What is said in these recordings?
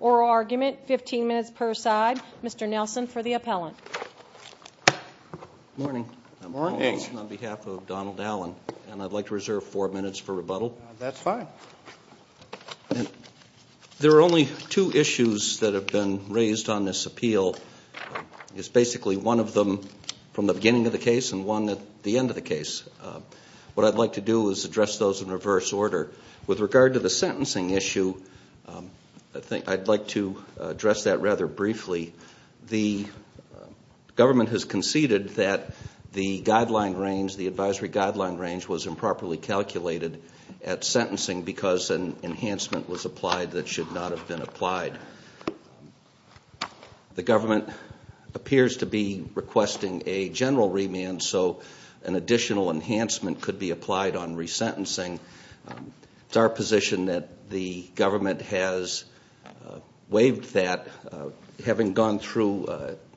oral argument, 15 minutes per side. Mr. Nelson for the appellant. Good morning. I'm Paul Nelson on behalf of Donald Allen and I'd like to reserve four minutes for rebuttal. That's fine. There are only two issues that have been raised on this appeal. It's basically one of them from the beginning of the case and one at the end of the case. What I'd like to do is address those in reverse order. With regard to the sentencing issue, I'd like to address that rather briefly. The government has conceded that the advisory guideline range was improperly calculated at sentencing because an enhancement was applied that should not have been applied. The government appears to be requesting a general remand so an additional enhancement could be applied on resentencing. It's our position that the government has waived that. Having gone through,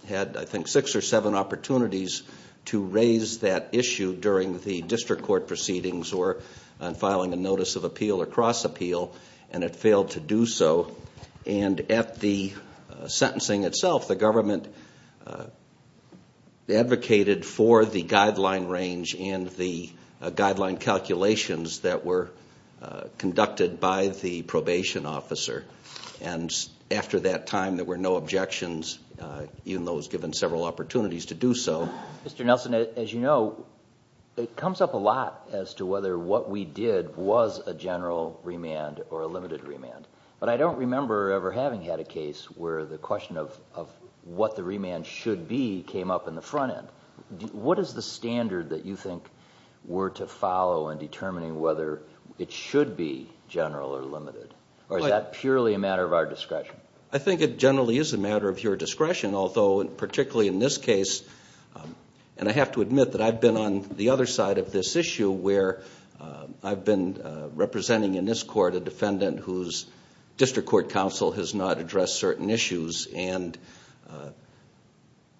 had I think six or seven opportunities to raise that issue during the district court proceedings or filing a notice of appeal or cross appeal and it failed to do so. At the sentencing itself, the government advocated for the guideline range and the guideline calculations that were conducted by the probation officer. After that time, there were no objections even though it was given several opportunities to do so. Mr. Nelson, as you know, it comes up a lot as to whether what we did was a general remand or a limited remand. I don't remember ever having had a case where the question of what the remand should be came up in the front end. What is the standard that you think were to follow in determining whether it should be general or limited? Or is that purely a matter of our discretion? I think it generally is a matter of your discretion. Although, particularly in this case, and I have to admit that I've been on the other side of this issue where I've been representing in this court a defendant whose district court counsel has not addressed certain issues and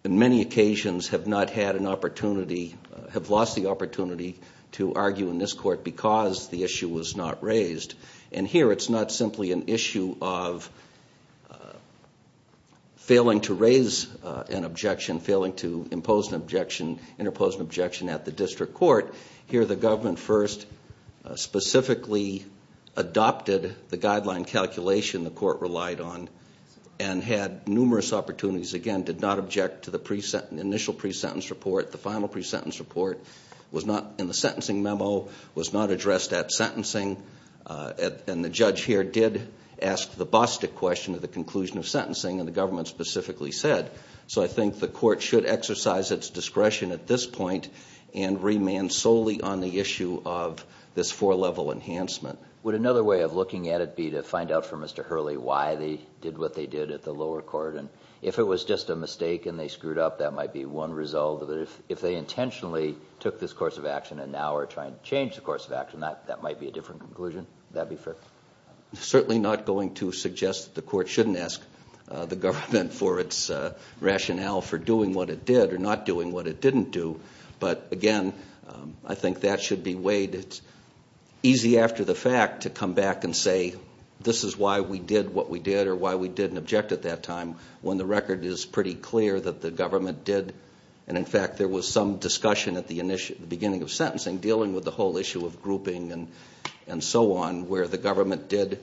in many occasions have not had an opportunity, have lost the opportunity to argue in this court because the issue was not raised. And here it's not simply an issue of failing to raise an objection, failing to impose an objection, interpose an objection at the district court. Here the government first specifically adopted the guideline calculation the court relied on and had numerous opportunities, again, did not object to the initial pre-sentence report. The final pre-sentence report was not, in the sentencing memo, was not addressed at sentencing. And the judge here did ask the Bostic question at the conclusion of sentencing, and the government specifically said. So I think the court should exercise its discretion at this point and remand solely on the issue of this four-level enhancement. Would another way of looking at it be to find out from Mr. Hurley why they did what they did at the lower court? And if it was just a mistake and they screwed up, that might be one result. But if they intentionally took this course of action and now are trying to change the course of action, that might be a different conclusion. Would that be fair? Certainly not going to suggest that the court shouldn't ask the government for its rationale for doing what it did or not doing what it didn't do. But, again, I think that should be weighed. It's easy after the fact to come back and say, this is why we did what we did or why we didn't object at that time, when the record is pretty clear that the government did. And, in fact, there was some discussion at the beginning of sentencing dealing with the whole issue of grouping and so on, where the government did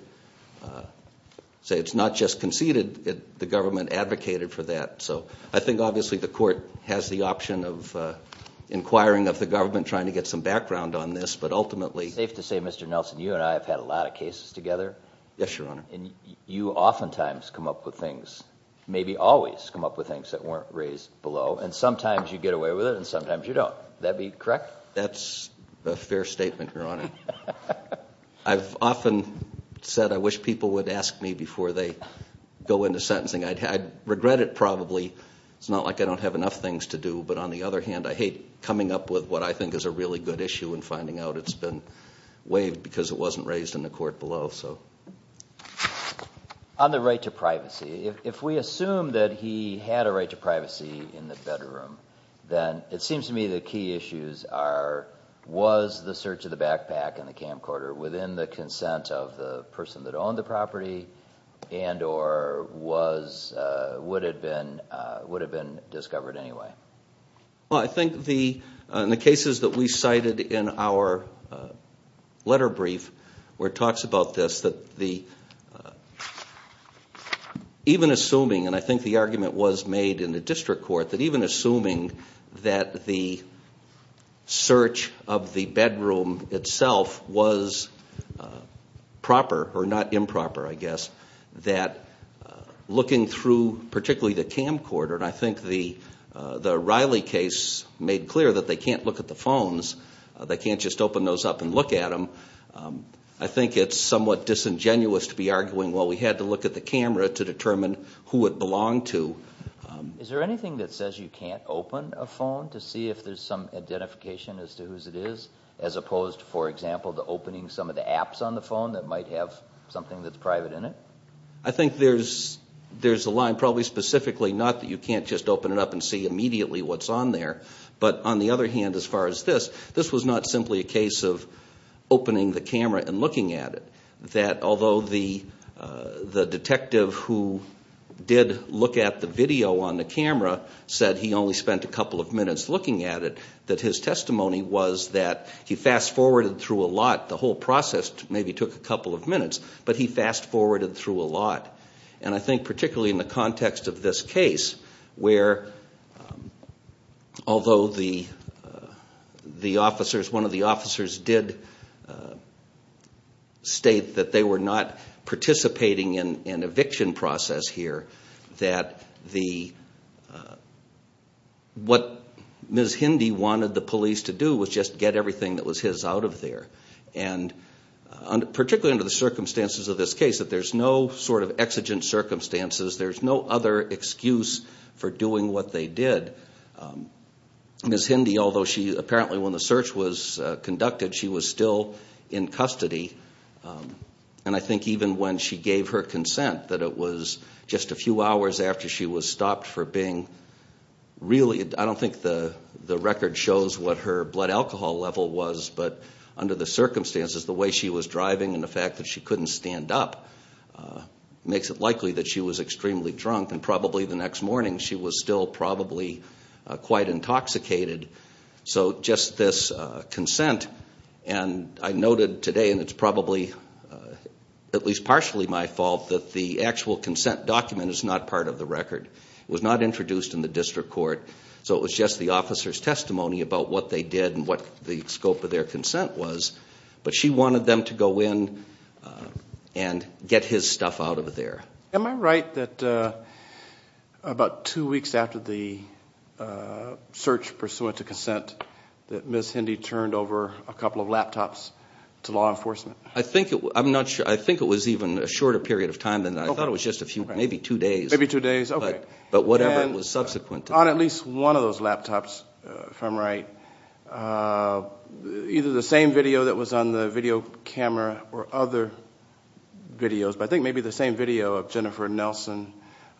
say it's not just conceded, the government advocated for that. So I think, obviously, the court has the option of inquiring of the government, trying to get some background on this, but ultimately— It's safe to say, Mr. Nelson, you and I have had a lot of cases together. Yes, Your Honor. And you oftentimes come up with things, maybe always come up with things that weren't raised below, and sometimes you get away with it and sometimes you don't. Would that be correct? That's a fair statement, Your Honor. I've often said I wish people would ask me before they go into sentencing. I'd regret it probably. It's not like I don't have enough things to do, but on the other hand, I hate coming up with what I think is a really good issue and finding out it's been waived because it wasn't raised in the court below. On the right to privacy, if we assume that he had a right to privacy in the bedroom, then it seems to me the key issues are, was the search of the backpack in the camcorder within the consent of the person that owned the property and or would have been discovered anyway. Well, I think in the cases that we cited in our letter brief where it talks about this, that even assuming, and I think the argument was made in the district court, that even assuming that the search of the bedroom itself was proper or not improper, I guess, that looking through particularly the camcorder, and I think the Riley case made clear that they can't look at the phones. They can't just open those up and look at them. I think it's somewhat disingenuous to be arguing, well, we had to look at the camera to determine who it belonged to. Is there anything that says you can't open a phone to see if there's some identification as to whose it is, as opposed, for example, to opening some of the apps on the phone that might have something that's private in it? I think there's a line probably specifically not that you can't just open it up and see immediately what's on there, but on the other hand, as far as this, this was not simply a case of opening the camera and looking at it. Although the detective who did look at the video on the camera said he only spent a couple of minutes looking at it, that his testimony was that he fast-forwarded through a lot. The whole process maybe took a couple of minutes, but he fast-forwarded through a lot. I think particularly in the context of this case where, although one of the officers did state that they were not participating in an eviction process here, that what Ms. Hindy wanted the police to do was just get everything that was his out of there. Particularly under the circumstances of this case, that there's no sort of exigent circumstances. There's no other excuse for doing what they did. Ms. Hindy, although apparently when the search was conducted, she was still in custody. I think even when she gave her consent, that it was just a few hours after she was stopped for being really, I don't think the record shows what her blood alcohol level was, but under the circumstances, the way she was driving and the fact that she couldn't stand up makes it likely that she was extremely drunk. Probably the next morning, she was still probably quite intoxicated. Just this consent, and I noted today, and it's probably at least partially my fault, that the actual consent document is not part of the record. It was not introduced in the district court, so it was just the officer's testimony about what they did and what the scope of their consent was, but she wanted them to go in and get his stuff out of there. Am I right that about two weeks after the search pursuant to consent, that Ms. Hindy turned over a couple of laptops to law enforcement? I think it was even a shorter period of time than that. I thought it was just maybe two days. Maybe two days, okay. But whatever was subsequent to that. On at least one of those laptops, if I'm right, either the same video that was on the video camera or other videos, but I think maybe the same video of Jennifer Nelson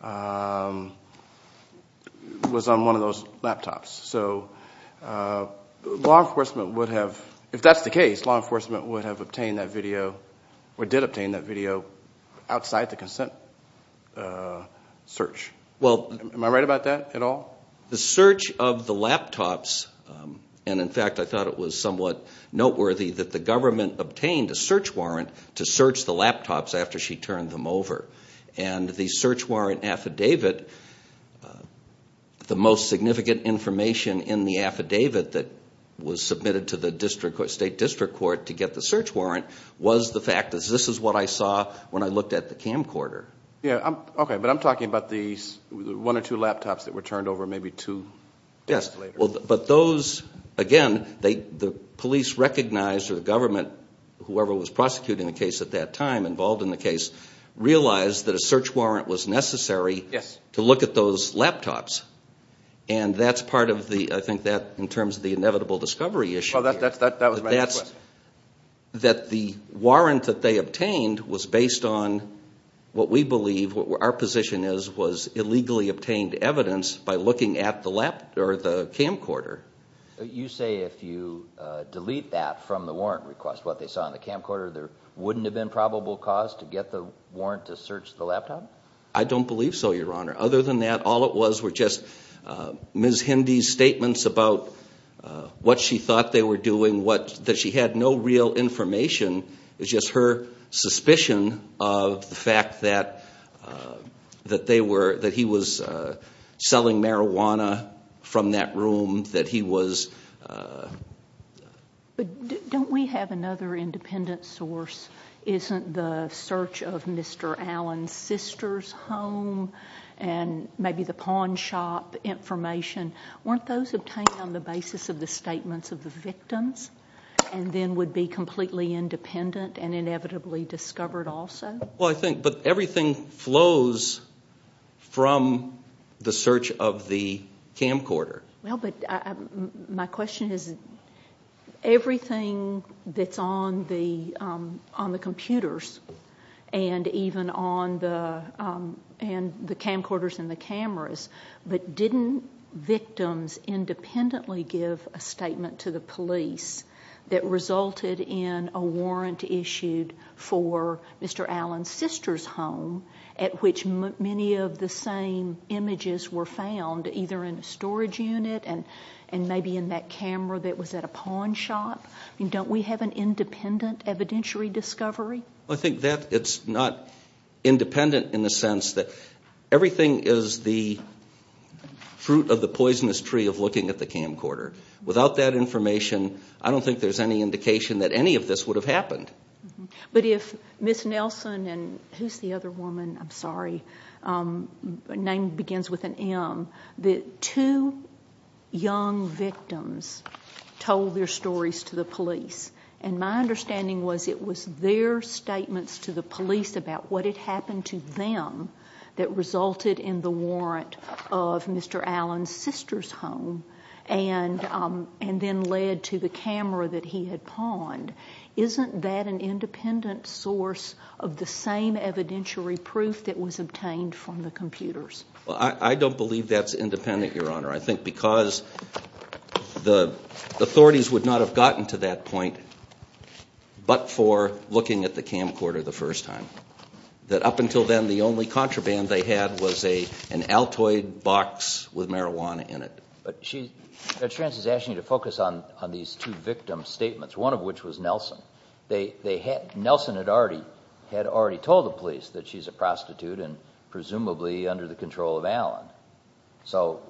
was on one of those laptops. So law enforcement would have, if that's the case, law enforcement would have obtained that video or did obtain that video outside the consent search. Am I right about that at all? The search of the laptops, and in fact I thought it was somewhat noteworthy that the government obtained a search warrant to search the laptops after she turned them over. And the search warrant affidavit, the most significant information in the affidavit that was submitted to the state district court to get the search warrant was the fact that this is what I saw when I looked at the camcorder. Okay, but I'm talking about the one or two laptops that were turned over maybe two days later. Yes, but those, again, the police recognized or the government, whoever was prosecuting the case at that time involved in the case, realized that a search warrant was necessary to look at those laptops. And that's part of the, I think that in terms of the inevitable discovery issue, that the warrant that they obtained was based on what we believe, what our position is was illegally obtained evidence by looking at the camcorder. You say if you delete that from the warrant request, what they saw on the camcorder, there wouldn't have been probable cause to get the warrant to search the laptop? I don't believe so, Your Honor. Other than that, all it was were just Ms. Hindy's statements about what she thought they were doing, that she had no real information. It's just her suspicion of the fact that he was selling marijuana from that room, that he was... But don't we have another independent source? Isn't the search of Mr. Allen's sister's home and maybe the pawn shop information, weren't those obtained on the basis of the statements of the victims and then would be completely independent and inevitably discovered also? Well, I think, but everything flows from the search of the camcorder. Well, but my question is everything that's on the computers and even on the camcorders and the cameras, but didn't victims independently give a statement to the police that resulted in a warrant issued for Mr. Allen's sister's home at which many of the same images were found either in a storage unit and maybe in that camera that was at a pawn shop? Don't we have an independent evidentiary discovery? Well, I think that it's not independent in the sense that everything is the fruit of the poisonous tree of looking at the camcorder. Without that information, I don't think there's any indication that any of this would have happened. But if Ms. Nelson and who's the other woman? I'm sorry. Her name begins with an M. The two young victims told their stories to the police, and my understanding was it was their statements to the police about what had happened to them that resulted in the warrant of Mr. Allen's sister's home and then led to the camera that he had pawned. Isn't that an independent source of the same evidentiary proof that was obtained from the computers? Well, I don't believe that's independent, Your Honor. I think because the authorities would not have gotten to that point but for looking at the camcorder the first time. That up until then, the only contraband they had was an Altoid box with marijuana in it. Judge Trantz is asking you to focus on these two victim statements, one of which was Nelson. Nelson had already told the police that she's a prostitute and presumably under the control of Allen. So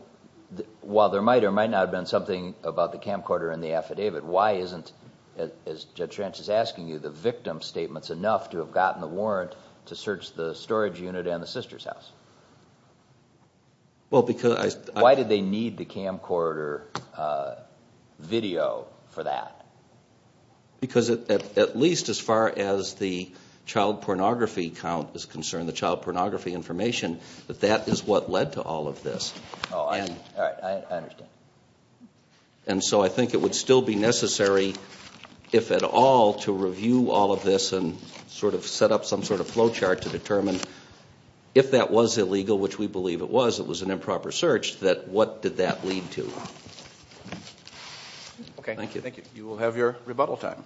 while there might or might not have been something about the camcorder and the affidavit, why isn't, as Judge Trantz is asking you, the victim statements enough to have gotten the warrant to search the storage unit and the sister's house? Why did they need the camcorder video for that? Because at least as far as the child pornography account is concerned, the child pornography information, that that is what led to all of this. All right, I understand. And so I think it would still be necessary, if at all, to review all of this and sort of set up some sort of flow chart to determine if that was illegal, which we believe it was, it was an improper search, that what did that lead to. Okay, thank you. You will have your rebuttal time.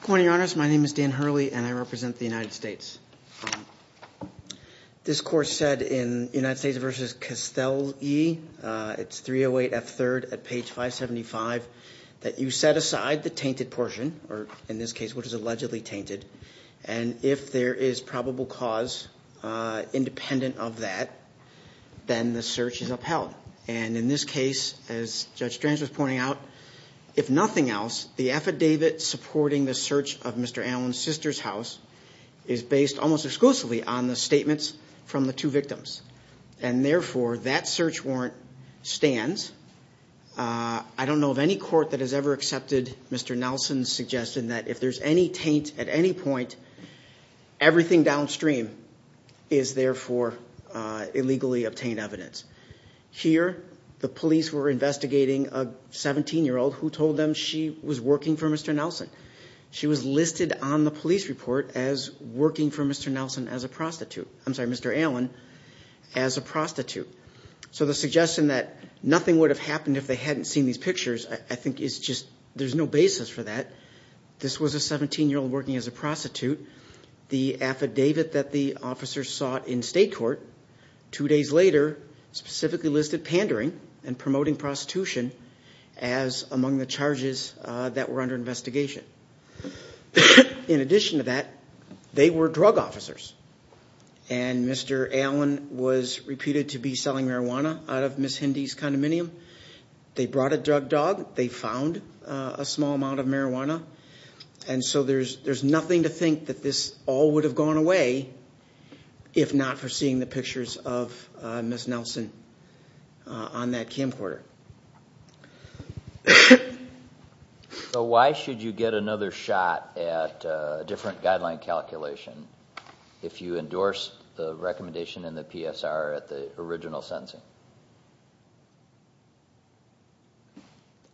Good morning, Your Honors. My name is Dan Hurley and I represent the United States. This court said in United States v. Castelli, it's 308 F. 3rd at page 575, that you set aside the tainted portion, or in this case, what is allegedly tainted, and if there is probable cause independent of that, then the search is upheld. And in this case, as Judge Trantz was pointing out, if nothing else, the affidavit supporting the search of Mr. Allen's sister's house is based almost exclusively on the statements from the two victims. And therefore, that search warrant stands. I don't know of any court that has ever accepted Mr. Nelson's suggestion that if there's any taint at any point, everything downstream is there for illegally obtained evidence. Here, the police were investigating a 17-year-old who told them she was working for Mr. Nelson. She was listed on the police report as working for Mr. Nelson as a prostitute. I'm sorry, Mr. Allen as a prostitute. So the suggestion that nothing would have happened if they hadn't seen these pictures I think is just, there's no basis for that. This was a 17-year-old working as a prostitute. The affidavit that the officers sought in state court two days later specifically listed pandering and promoting prostitution as among the charges that were under investigation. In addition to that, they were drug officers, and Mr. Allen was repeated to be selling marijuana out of Ms. Hindy's condominium. They brought a drug dog. They found a small amount of marijuana. And so there's nothing to think that this all would have gone away if not for seeing the pictures of Ms. Nelson on that camcorder. So why should you get another shot at a different guideline calculation if you endorse the recommendation in the PSR at the original sentencing?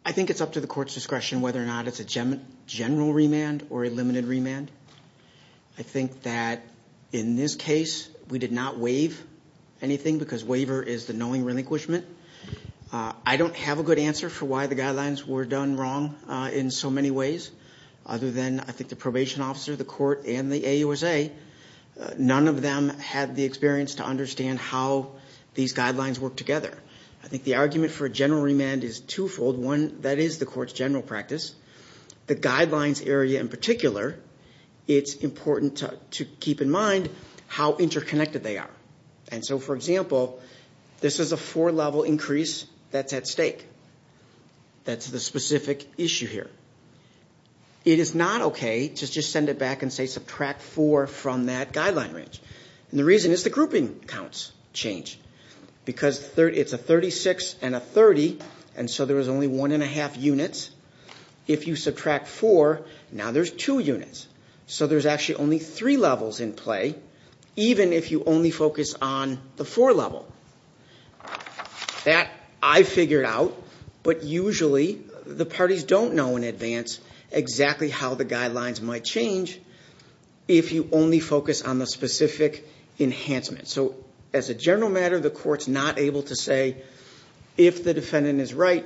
I think it's up to the court's discretion whether or not it's a general remand or a limited remand. I think that in this case we did not waive anything because waiver is the knowing relinquishment. I don't have a good answer for why the guidelines were done wrong in so many ways other than I think the probation officer, the court, and the AUSA, none of them had the experience to understand how these guidelines work together. I think the argument for a general remand is twofold. One, that is the court's general practice. The guidelines area in particular, it's important to keep in mind how interconnected they are. And so, for example, this is a four-level increase that's at stake. That's the specific issue here. It is not okay to just send it back and say subtract four from that guideline range. And the reason is the grouping counts change because it's a 36 and a 30, and so there was only one and a half units. If you subtract four, now there's two units. So there's actually only three levels in play, even if you only focus on the four level. That I figured out, but usually the parties don't know in advance exactly how the guidelines might change if you only focus on the specific enhancement. So as a general matter, the court's not able to say if the defendant is right,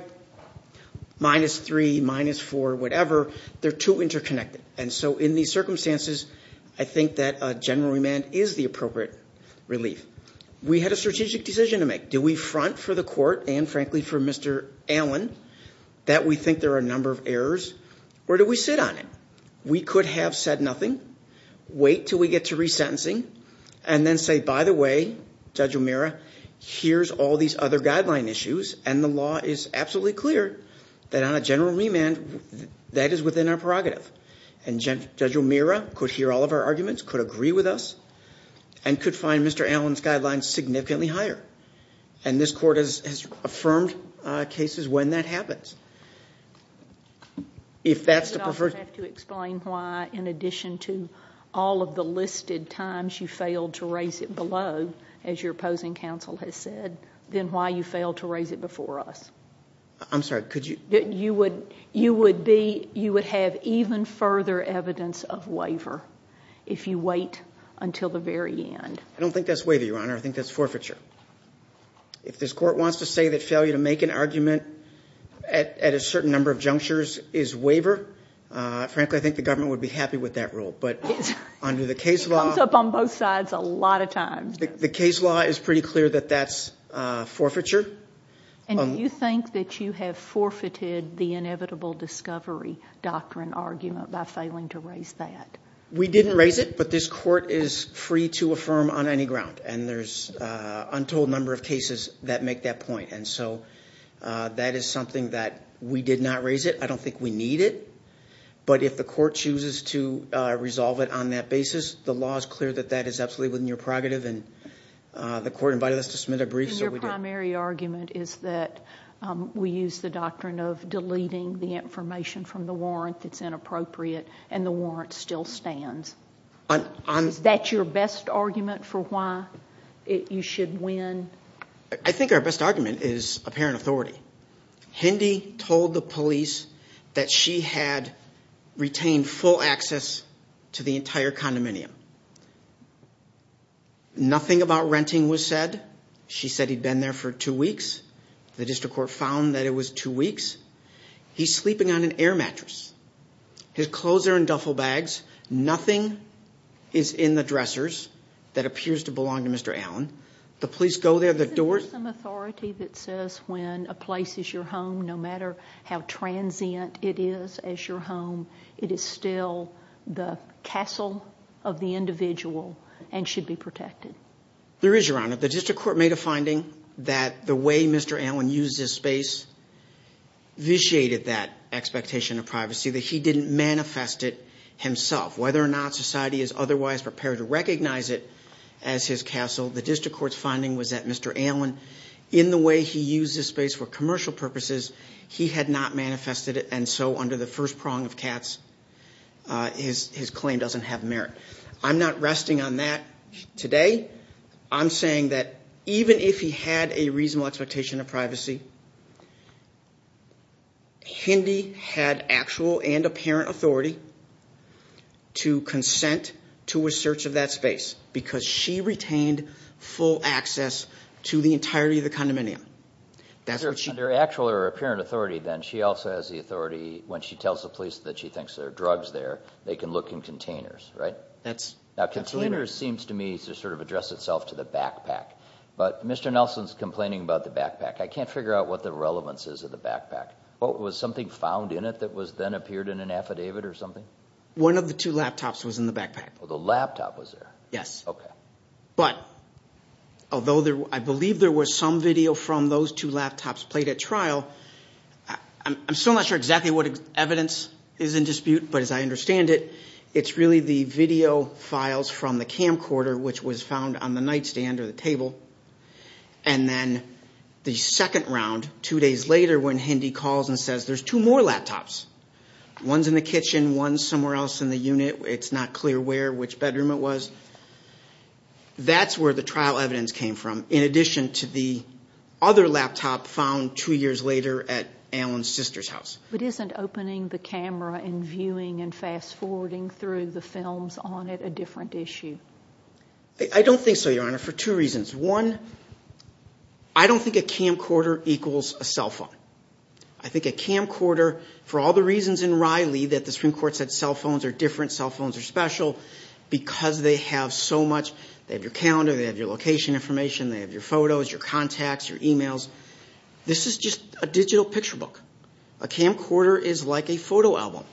minus three, minus four, whatever. They're too interconnected. And so in these circumstances, I think that a general remand is the appropriate relief. We had a strategic decision to make. Do we front for the court and, frankly, for Mr. Allen that we think there are a number of errors, or do we sit on it? We could have said nothing, wait until we get to resentencing, and then say, by the way, Judge O'Meara, here's all these other guideline issues, and the law is absolutely clear that on a general remand, that is within our prerogative. And Judge O'Meara could hear all of our arguments, could agree with us, and could find Mr. Allen's guidelines significantly higher. And this court has affirmed cases when that happens. If that's the preferred... I would have to explain why, in addition to all of the listed times you failed to raise it below, as your opposing counsel has said, then why you failed to raise it before us. I'm sorry, could you... You would have even further evidence of waiver if you wait until the very end. I don't think that's waiver, Your Honor. I think that's forfeiture. If this court wants to say that failure to make an argument at a certain number of junctures is waiver, frankly, I think the government would be happy with that rule. But under the case law... It comes up on both sides a lot of times. The case law is pretty clear that that's forfeiture. And do you think that you have forfeited the inevitable discovery doctrine argument by failing to raise that? We didn't raise it, but this court is free to affirm on any ground. And there's an untold number of cases that make that point. And so that is something that we did not raise it. I don't think we need it. But if the court chooses to resolve it on that basis, the law is clear that that is absolutely within your prerogative. And the court invited us to submit a brief, so we did. And your primary argument is that we use the doctrine of deleting the information from the warrant that's inappropriate, and the warrant still stands. Is that your best argument for why you should win? I think our best argument is apparent authority. Hindy told the police that she had retained full access to the entire condominium. Nothing about renting was said. She said he'd been there for two weeks. The district court found that it was two weeks. He's sleeping on an air mattress. His clothes are in duffel bags. Nothing is in the dressers that appears to belong to Mr. Allen. The police go there. There's some authority that says when a place is your home, no matter how transient it is as your home, it is still the castle of the individual and should be protected. There is, Your Honor. The district court made a finding that the way Mr. Allen used his space vitiated that expectation of privacy, that he didn't manifest it himself. Whether or not society is otherwise prepared to recognize it as his castle, the district court's finding was that Mr. Allen, in the way he used his space for commercial purposes, he had not manifested it, and so under the first prong of Katz, his claim doesn't have merit. I'm not resting on that today. I'm saying that even if he had a reasonable expectation of privacy, Hindy had actual and apparent authority to consent to a search of that space because she retained full access to the entirety of the condominium. Under actual or apparent authority, then, she also has the authority, when she tells the police that she thinks there are drugs there, they can look in containers, right? Now, containers seems to me to sort of address itself to the backpack, but Mr. Nelson's complaining about the backpack. I can't figure out what the relevance is of the backpack. Was something found in it that then appeared in an affidavit or something? One of the two laptops was in the backpack. The laptop was there? Yes. Okay. But although I believe there was some video from those two laptops played at trial, I'm still not sure exactly what evidence is in dispute, but as I understand it, it's really the video files from the camcorder, which was found on the nightstand or the table, and then the second round, two days later, when Hindy calls and says, there's two more laptops, one's in the kitchen, one's somewhere else in the unit. It's not clear where, which bedroom it was. That's where the trial evidence came from, in addition to the other laptop found two years later at Allen's sister's house. But isn't opening the camera and viewing and fast-forwarding through the films on it a different issue? I don't think so, Your Honor, for two reasons. One, I don't think a camcorder equals a cell phone. I think a camcorder, for all the reasons in Riley that the Supreme Court said cell phones are different, cell phones are special, because they have so much, they have your calendar, they have your location information, they have your photos, your contacts, your e-mails. This is just a digital picture book. A camcorder is like a photo album,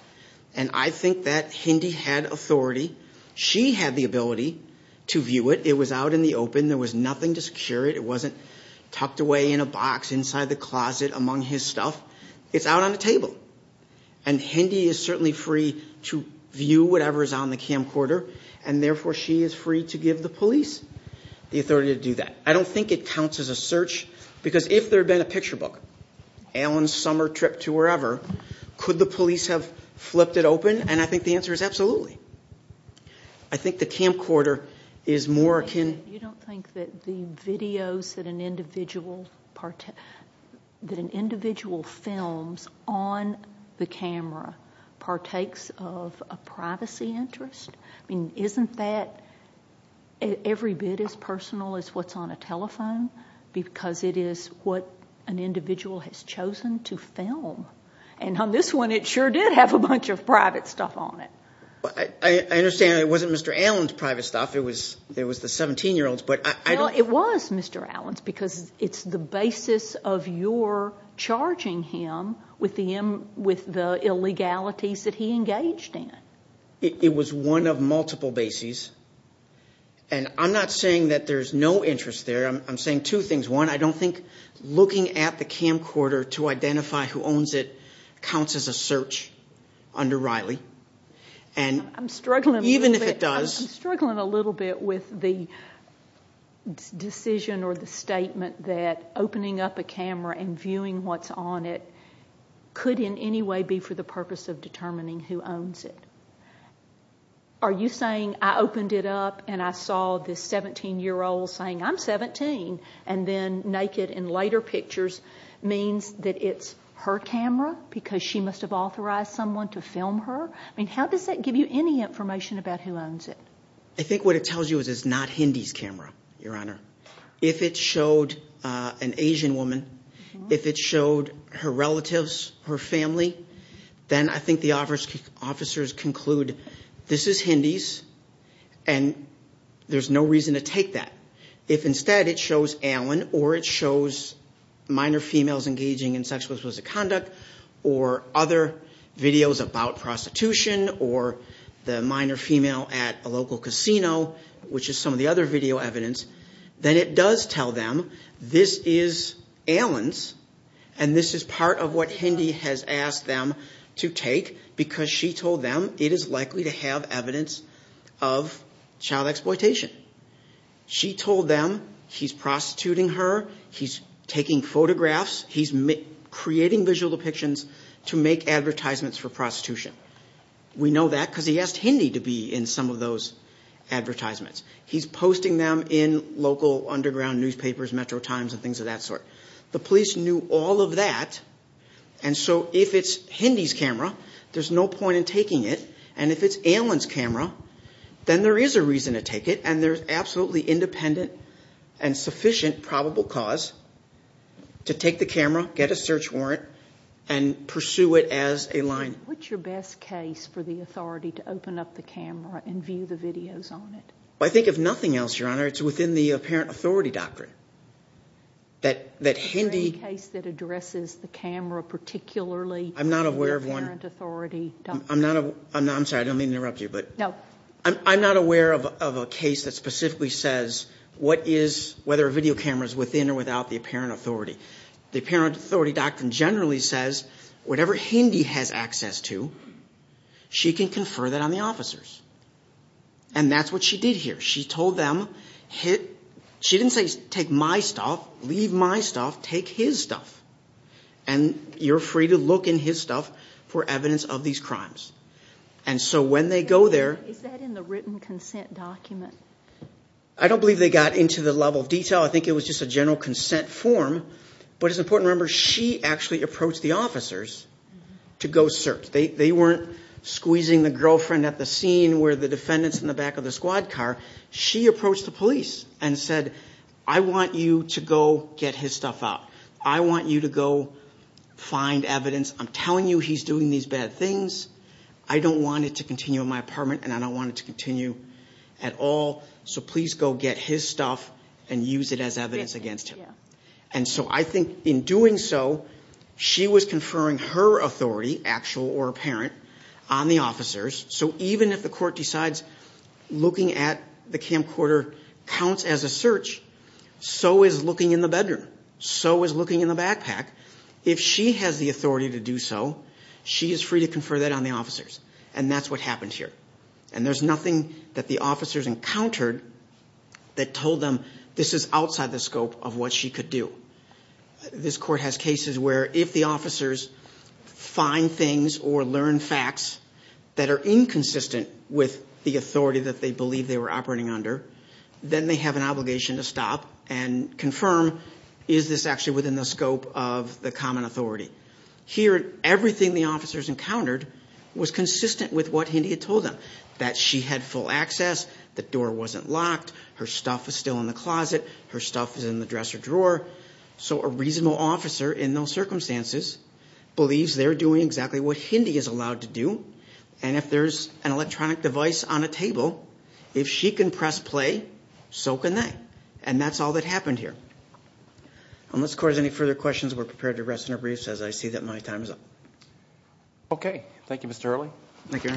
and I think that Hindy had authority. She had the ability to view it. It was out in the open. There was nothing to secure it. It wasn't tucked away in a box inside the closet among his stuff. It's out on the table. And Hindy is certainly free to view whatever is on the camcorder, and therefore she is free to give the police the authority to do that. I don't think it counts as a search, because if there had been a picture book, Alan's summer trip to wherever, could the police have flipped it open? And I think the answer is absolutely. I think the camcorder is more akin... You don't think that the videos that an individual films on the camera partakes of a privacy interest? I mean, isn't that every bit as personal as what's on a telephone? Because it is what an individual has chosen to film. And on this one, it sure did have a bunch of private stuff on it. I understand it wasn't Mr. Allen's private stuff. It was the 17-year-old's, but I don't... Well, it was Mr. Allen's, because it's the basis of your charging him with the illegalities that he engaged in. It was one of multiple bases. And I'm not saying that there's no interest there. I'm saying two things. One, I don't think looking at the camcorder to identify who owns it counts as a search under Riley. And even if it does... I'm struggling a little bit with the decision or the statement that opening up a camera and viewing what's on it could in any way be for the purpose of determining who owns it. Are you saying I opened it up and I saw this 17-year-old saying, I'm 17, and then naked in later pictures means that it's her camera because she must have authorized someone to film her? I mean, how does that give you any information about who owns it? I think what it tells you is it's not Hindy's camera, Your Honor. If it showed an Asian woman, if it showed her relatives, her family, then I think the officers conclude this is Hindy's and there's no reason to take that. If instead it shows Allen or it shows minor females engaging in sexual explicit conduct or other videos about prostitution or the minor female at a local casino, which is some of the other video evidence, then it does tell them this is Allen's and this is part of what Hindy has asked them to take because she told them it is likely to have evidence of child exploitation. She told them he's prostituting her, he's taking photographs, he's creating visual depictions to make advertisements for prostitution. We know that because he asked Hindy to be in some of those advertisements. He's posting them in local underground newspapers, Metro Times, and things of that sort. The police knew all of that, and so if it's Hindy's camera, there's no point in taking it, and if it's Allen's camera, then there is a reason to take it and there's absolutely independent and sufficient probable cause to take the camera, get a search warrant, and pursue it as a line. What's your best case for the authority to open up the camera and view the videos on it? I think if nothing else, Your Honor, it's within the apparent authority doctrine that Hindy... Is there any case that addresses the camera particularly in the apparent authority doctrine? I'm sorry, I don't mean to interrupt you, but I'm not aware of a case that specifically says whether a video camera is within or without the apparent authority. The apparent authority doctrine generally says whatever Hindy has access to, she can confer that on the officers, and that's what she did here. She told them, she didn't say take my stuff, leave my stuff, take his stuff, and you're free to look in his stuff for evidence of these crimes. And so when they go there... Is that in the written consent document? I don't believe they got into the level of detail. I think it was just a general consent form, but it's important to remember she actually approached the officers to go search. They weren't squeezing the girlfriend at the scene where the defendant's in the back of the squad car. She approached the police and said, I want you to go get his stuff out. I want you to go find evidence. I'm telling you he's doing these bad things. I don't want it to continue in my apartment, and I don't want it to continue at all, so please go get his stuff and use it as evidence against him. And so I think in doing so, she was conferring her authority, actual or apparent, on the officers. So even if the court decides looking at the camcorder counts as a search, so is looking in the bedroom, so is looking in the backpack. If she has the authority to do so, she is free to confer that on the officers, and that's what happened here. And there's nothing that the officers encountered that told them this is outside the scope of what she could do. This court has cases where if the officers find things or learn facts that are inconsistent with the authority that they believe they were operating under, then they have an obligation to stop and confirm, is this actually within the scope of the common authority? Here, everything the officers encountered was consistent with what Hindy had told them, that she had full access, the door wasn't locked, her stuff was still in the closet, her stuff was in the dresser drawer. So a reasonable officer in those circumstances believes they're doing exactly what Hindy is allowed to do, and if there's an electronic device on a table, if she can press play, so can they. And that's all that happened here. Unless the court has any further questions, we're prepared to rest in our briefs, as I see that my time is up. Okay. Thank you, Mr. Early. Thank you.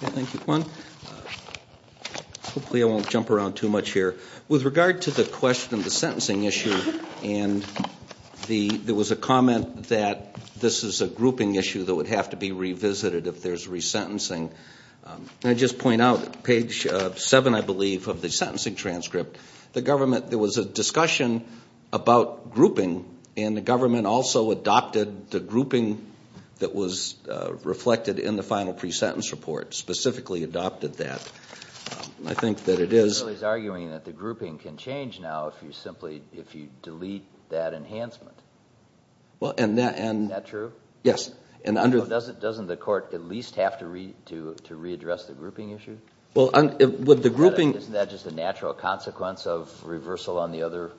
Thank you, Juan. Hopefully I won't jump around too much here. With regard to the question of the sentencing issue, and there was a comment that this is a grouping issue that would have to be revisited if there's resentencing. And I just point out, page 7, I believe, of the sentencing transcript, the government, there was a discussion about grouping, and the government also adopted the grouping that was reflected in the final pre-sentence report, specifically adopted that. I think that it is. Mr. Early is arguing that the grouping can change now if you simply, if you delete that enhancement. Well, and that. Isn't that true? Yes. Doesn't the court at least have to readdress the grouping issue? Isn't that just a natural consequence of reversal on the other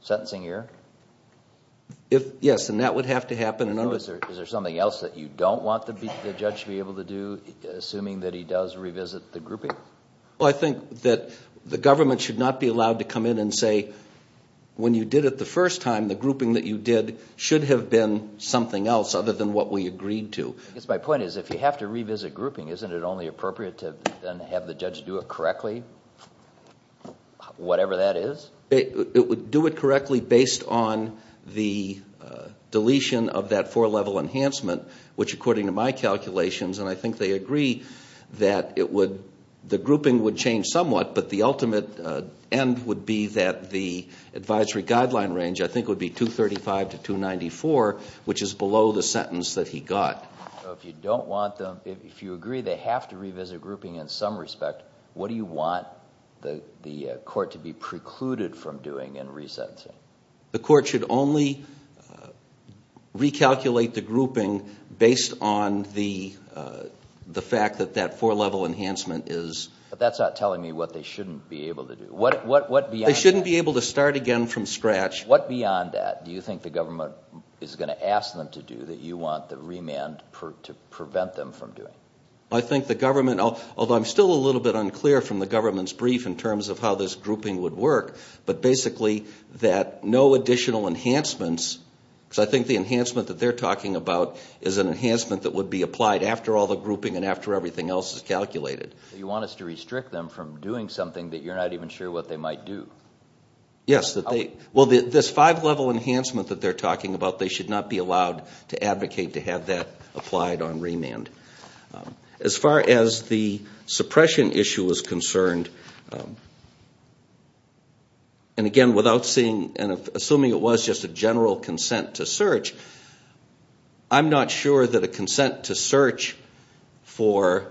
sentencing year? Yes, and that would have to happen. Is there something else that you don't want the judge to be able to do, assuming that he does revisit the grouping? Well, I think that the government should not be allowed to come in and say, when you did it the first time, the grouping that you did should have been something else other than what we agreed to. My point is, if you have to revisit grouping, isn't it only appropriate to then have the judge do it correctly, whatever that is? It would do it correctly based on the deletion of that four-level enhancement, which according to my calculations, and I think they agree that the grouping would change somewhat, but the ultimate end would be that the advisory guideline range, I think would be 235 to 294, which is below the sentence that he got. So if you don't want them, if you agree they have to revisit grouping in some respect, what do you want the court to be precluded from doing in resentencing? The court should only recalculate the grouping based on the fact that that four-level enhancement is... But that's not telling me what they shouldn't be able to do. They shouldn't be able to start again from scratch. What beyond that do you think the government is going to ask them to do that you want the remand to prevent them from doing? I think the government, although I'm still a little bit unclear from the government's brief in terms of how this grouping would work, but basically that no additional enhancements, because I think the enhancement that they're talking about is an enhancement that would be applied after all the grouping and after everything else is calculated. You want us to restrict them from doing something that you're not even sure what they might do? Yes. Well, this five-level enhancement that they're talking about, they should not be allowed to advocate to have that applied on remand. As far as the suppression issue is concerned, and again, without seeing and assuming it was just a general consent to search, I'm not sure that a consent to search for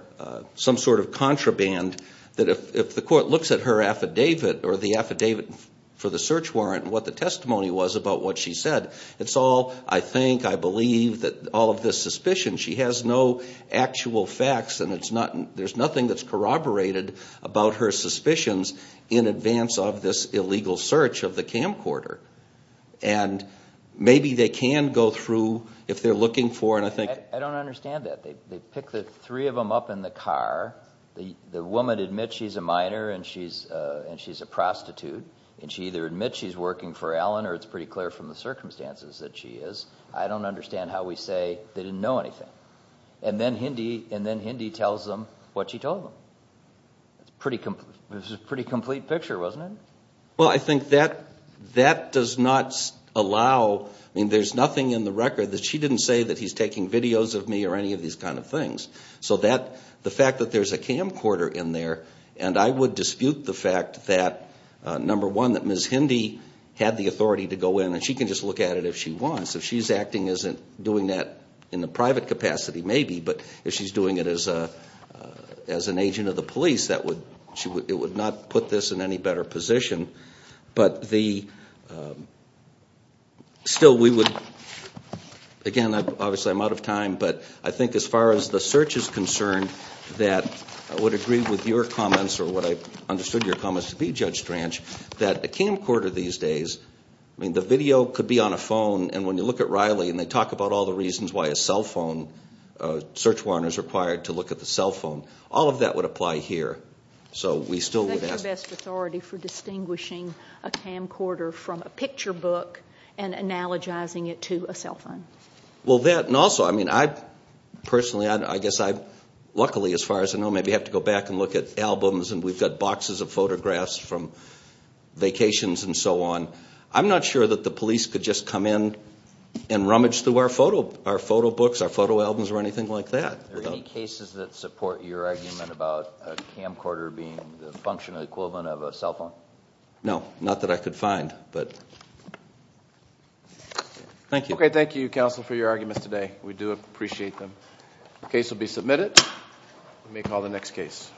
some sort of contraband, that if the court looks at her affidavit or the affidavit for the search warrant and what the testimony was about what she said, it's all, I think, I believe that all of this suspicion, she has no actual facts and there's nothing that's corroborated about her suspicions in advance of this illegal search of the camcorder. And maybe they can go through if they're looking for, and I think... I don't understand that. They pick the three of them up in the car. The woman admits she's a minor and she's a prostitute, and she either admits she's working for Allen or it's pretty clear from the circumstances that she is. I don't understand how we say they didn't know anything. And then Hindy tells them what she told them. It's a pretty complete picture, wasn't it? Well, I think that does not allow, I mean, there's nothing in the record that she didn't say that he's taking videos of me or any of these kind of things. So the fact that there's a camcorder in there, and I would dispute the fact that, number one, that Ms. Hindy had the authority to go in and she can just look at it if she wants. If she's acting as doing that in the private capacity, maybe, but if she's doing it as an agent of the police, it would not put this in any better position. But still we would, again, obviously I'm out of time, but I think as far as the search is concerned that I would agree with your comments or what I understood your comments to be, Judge Stranch, that a camcorder these days, I mean, the video could be on a phone, and when you look at Riley and they talk about all the reasons why a cell phone, a search warrant is required to look at the cell phone, all of that would apply here. Is that your best authority for distinguishing a camcorder from a picture book and analogizing it to a cell phone? Well, that, and also, I mean, I personally, I guess I, luckily as far as I know, maybe I have to go back and look at albums, and we've got boxes of photographs from vacations and so on. I'm not sure that the police could just come in and rummage through our photo books, our photo albums or anything like that. Are there any cases that support your argument about a camcorder being the functional equivalent of a cell phone? No, not that I could find, but thank you. Okay, thank you, counsel, for your arguments today. We do appreciate them. The case will be submitted. We may call the next case.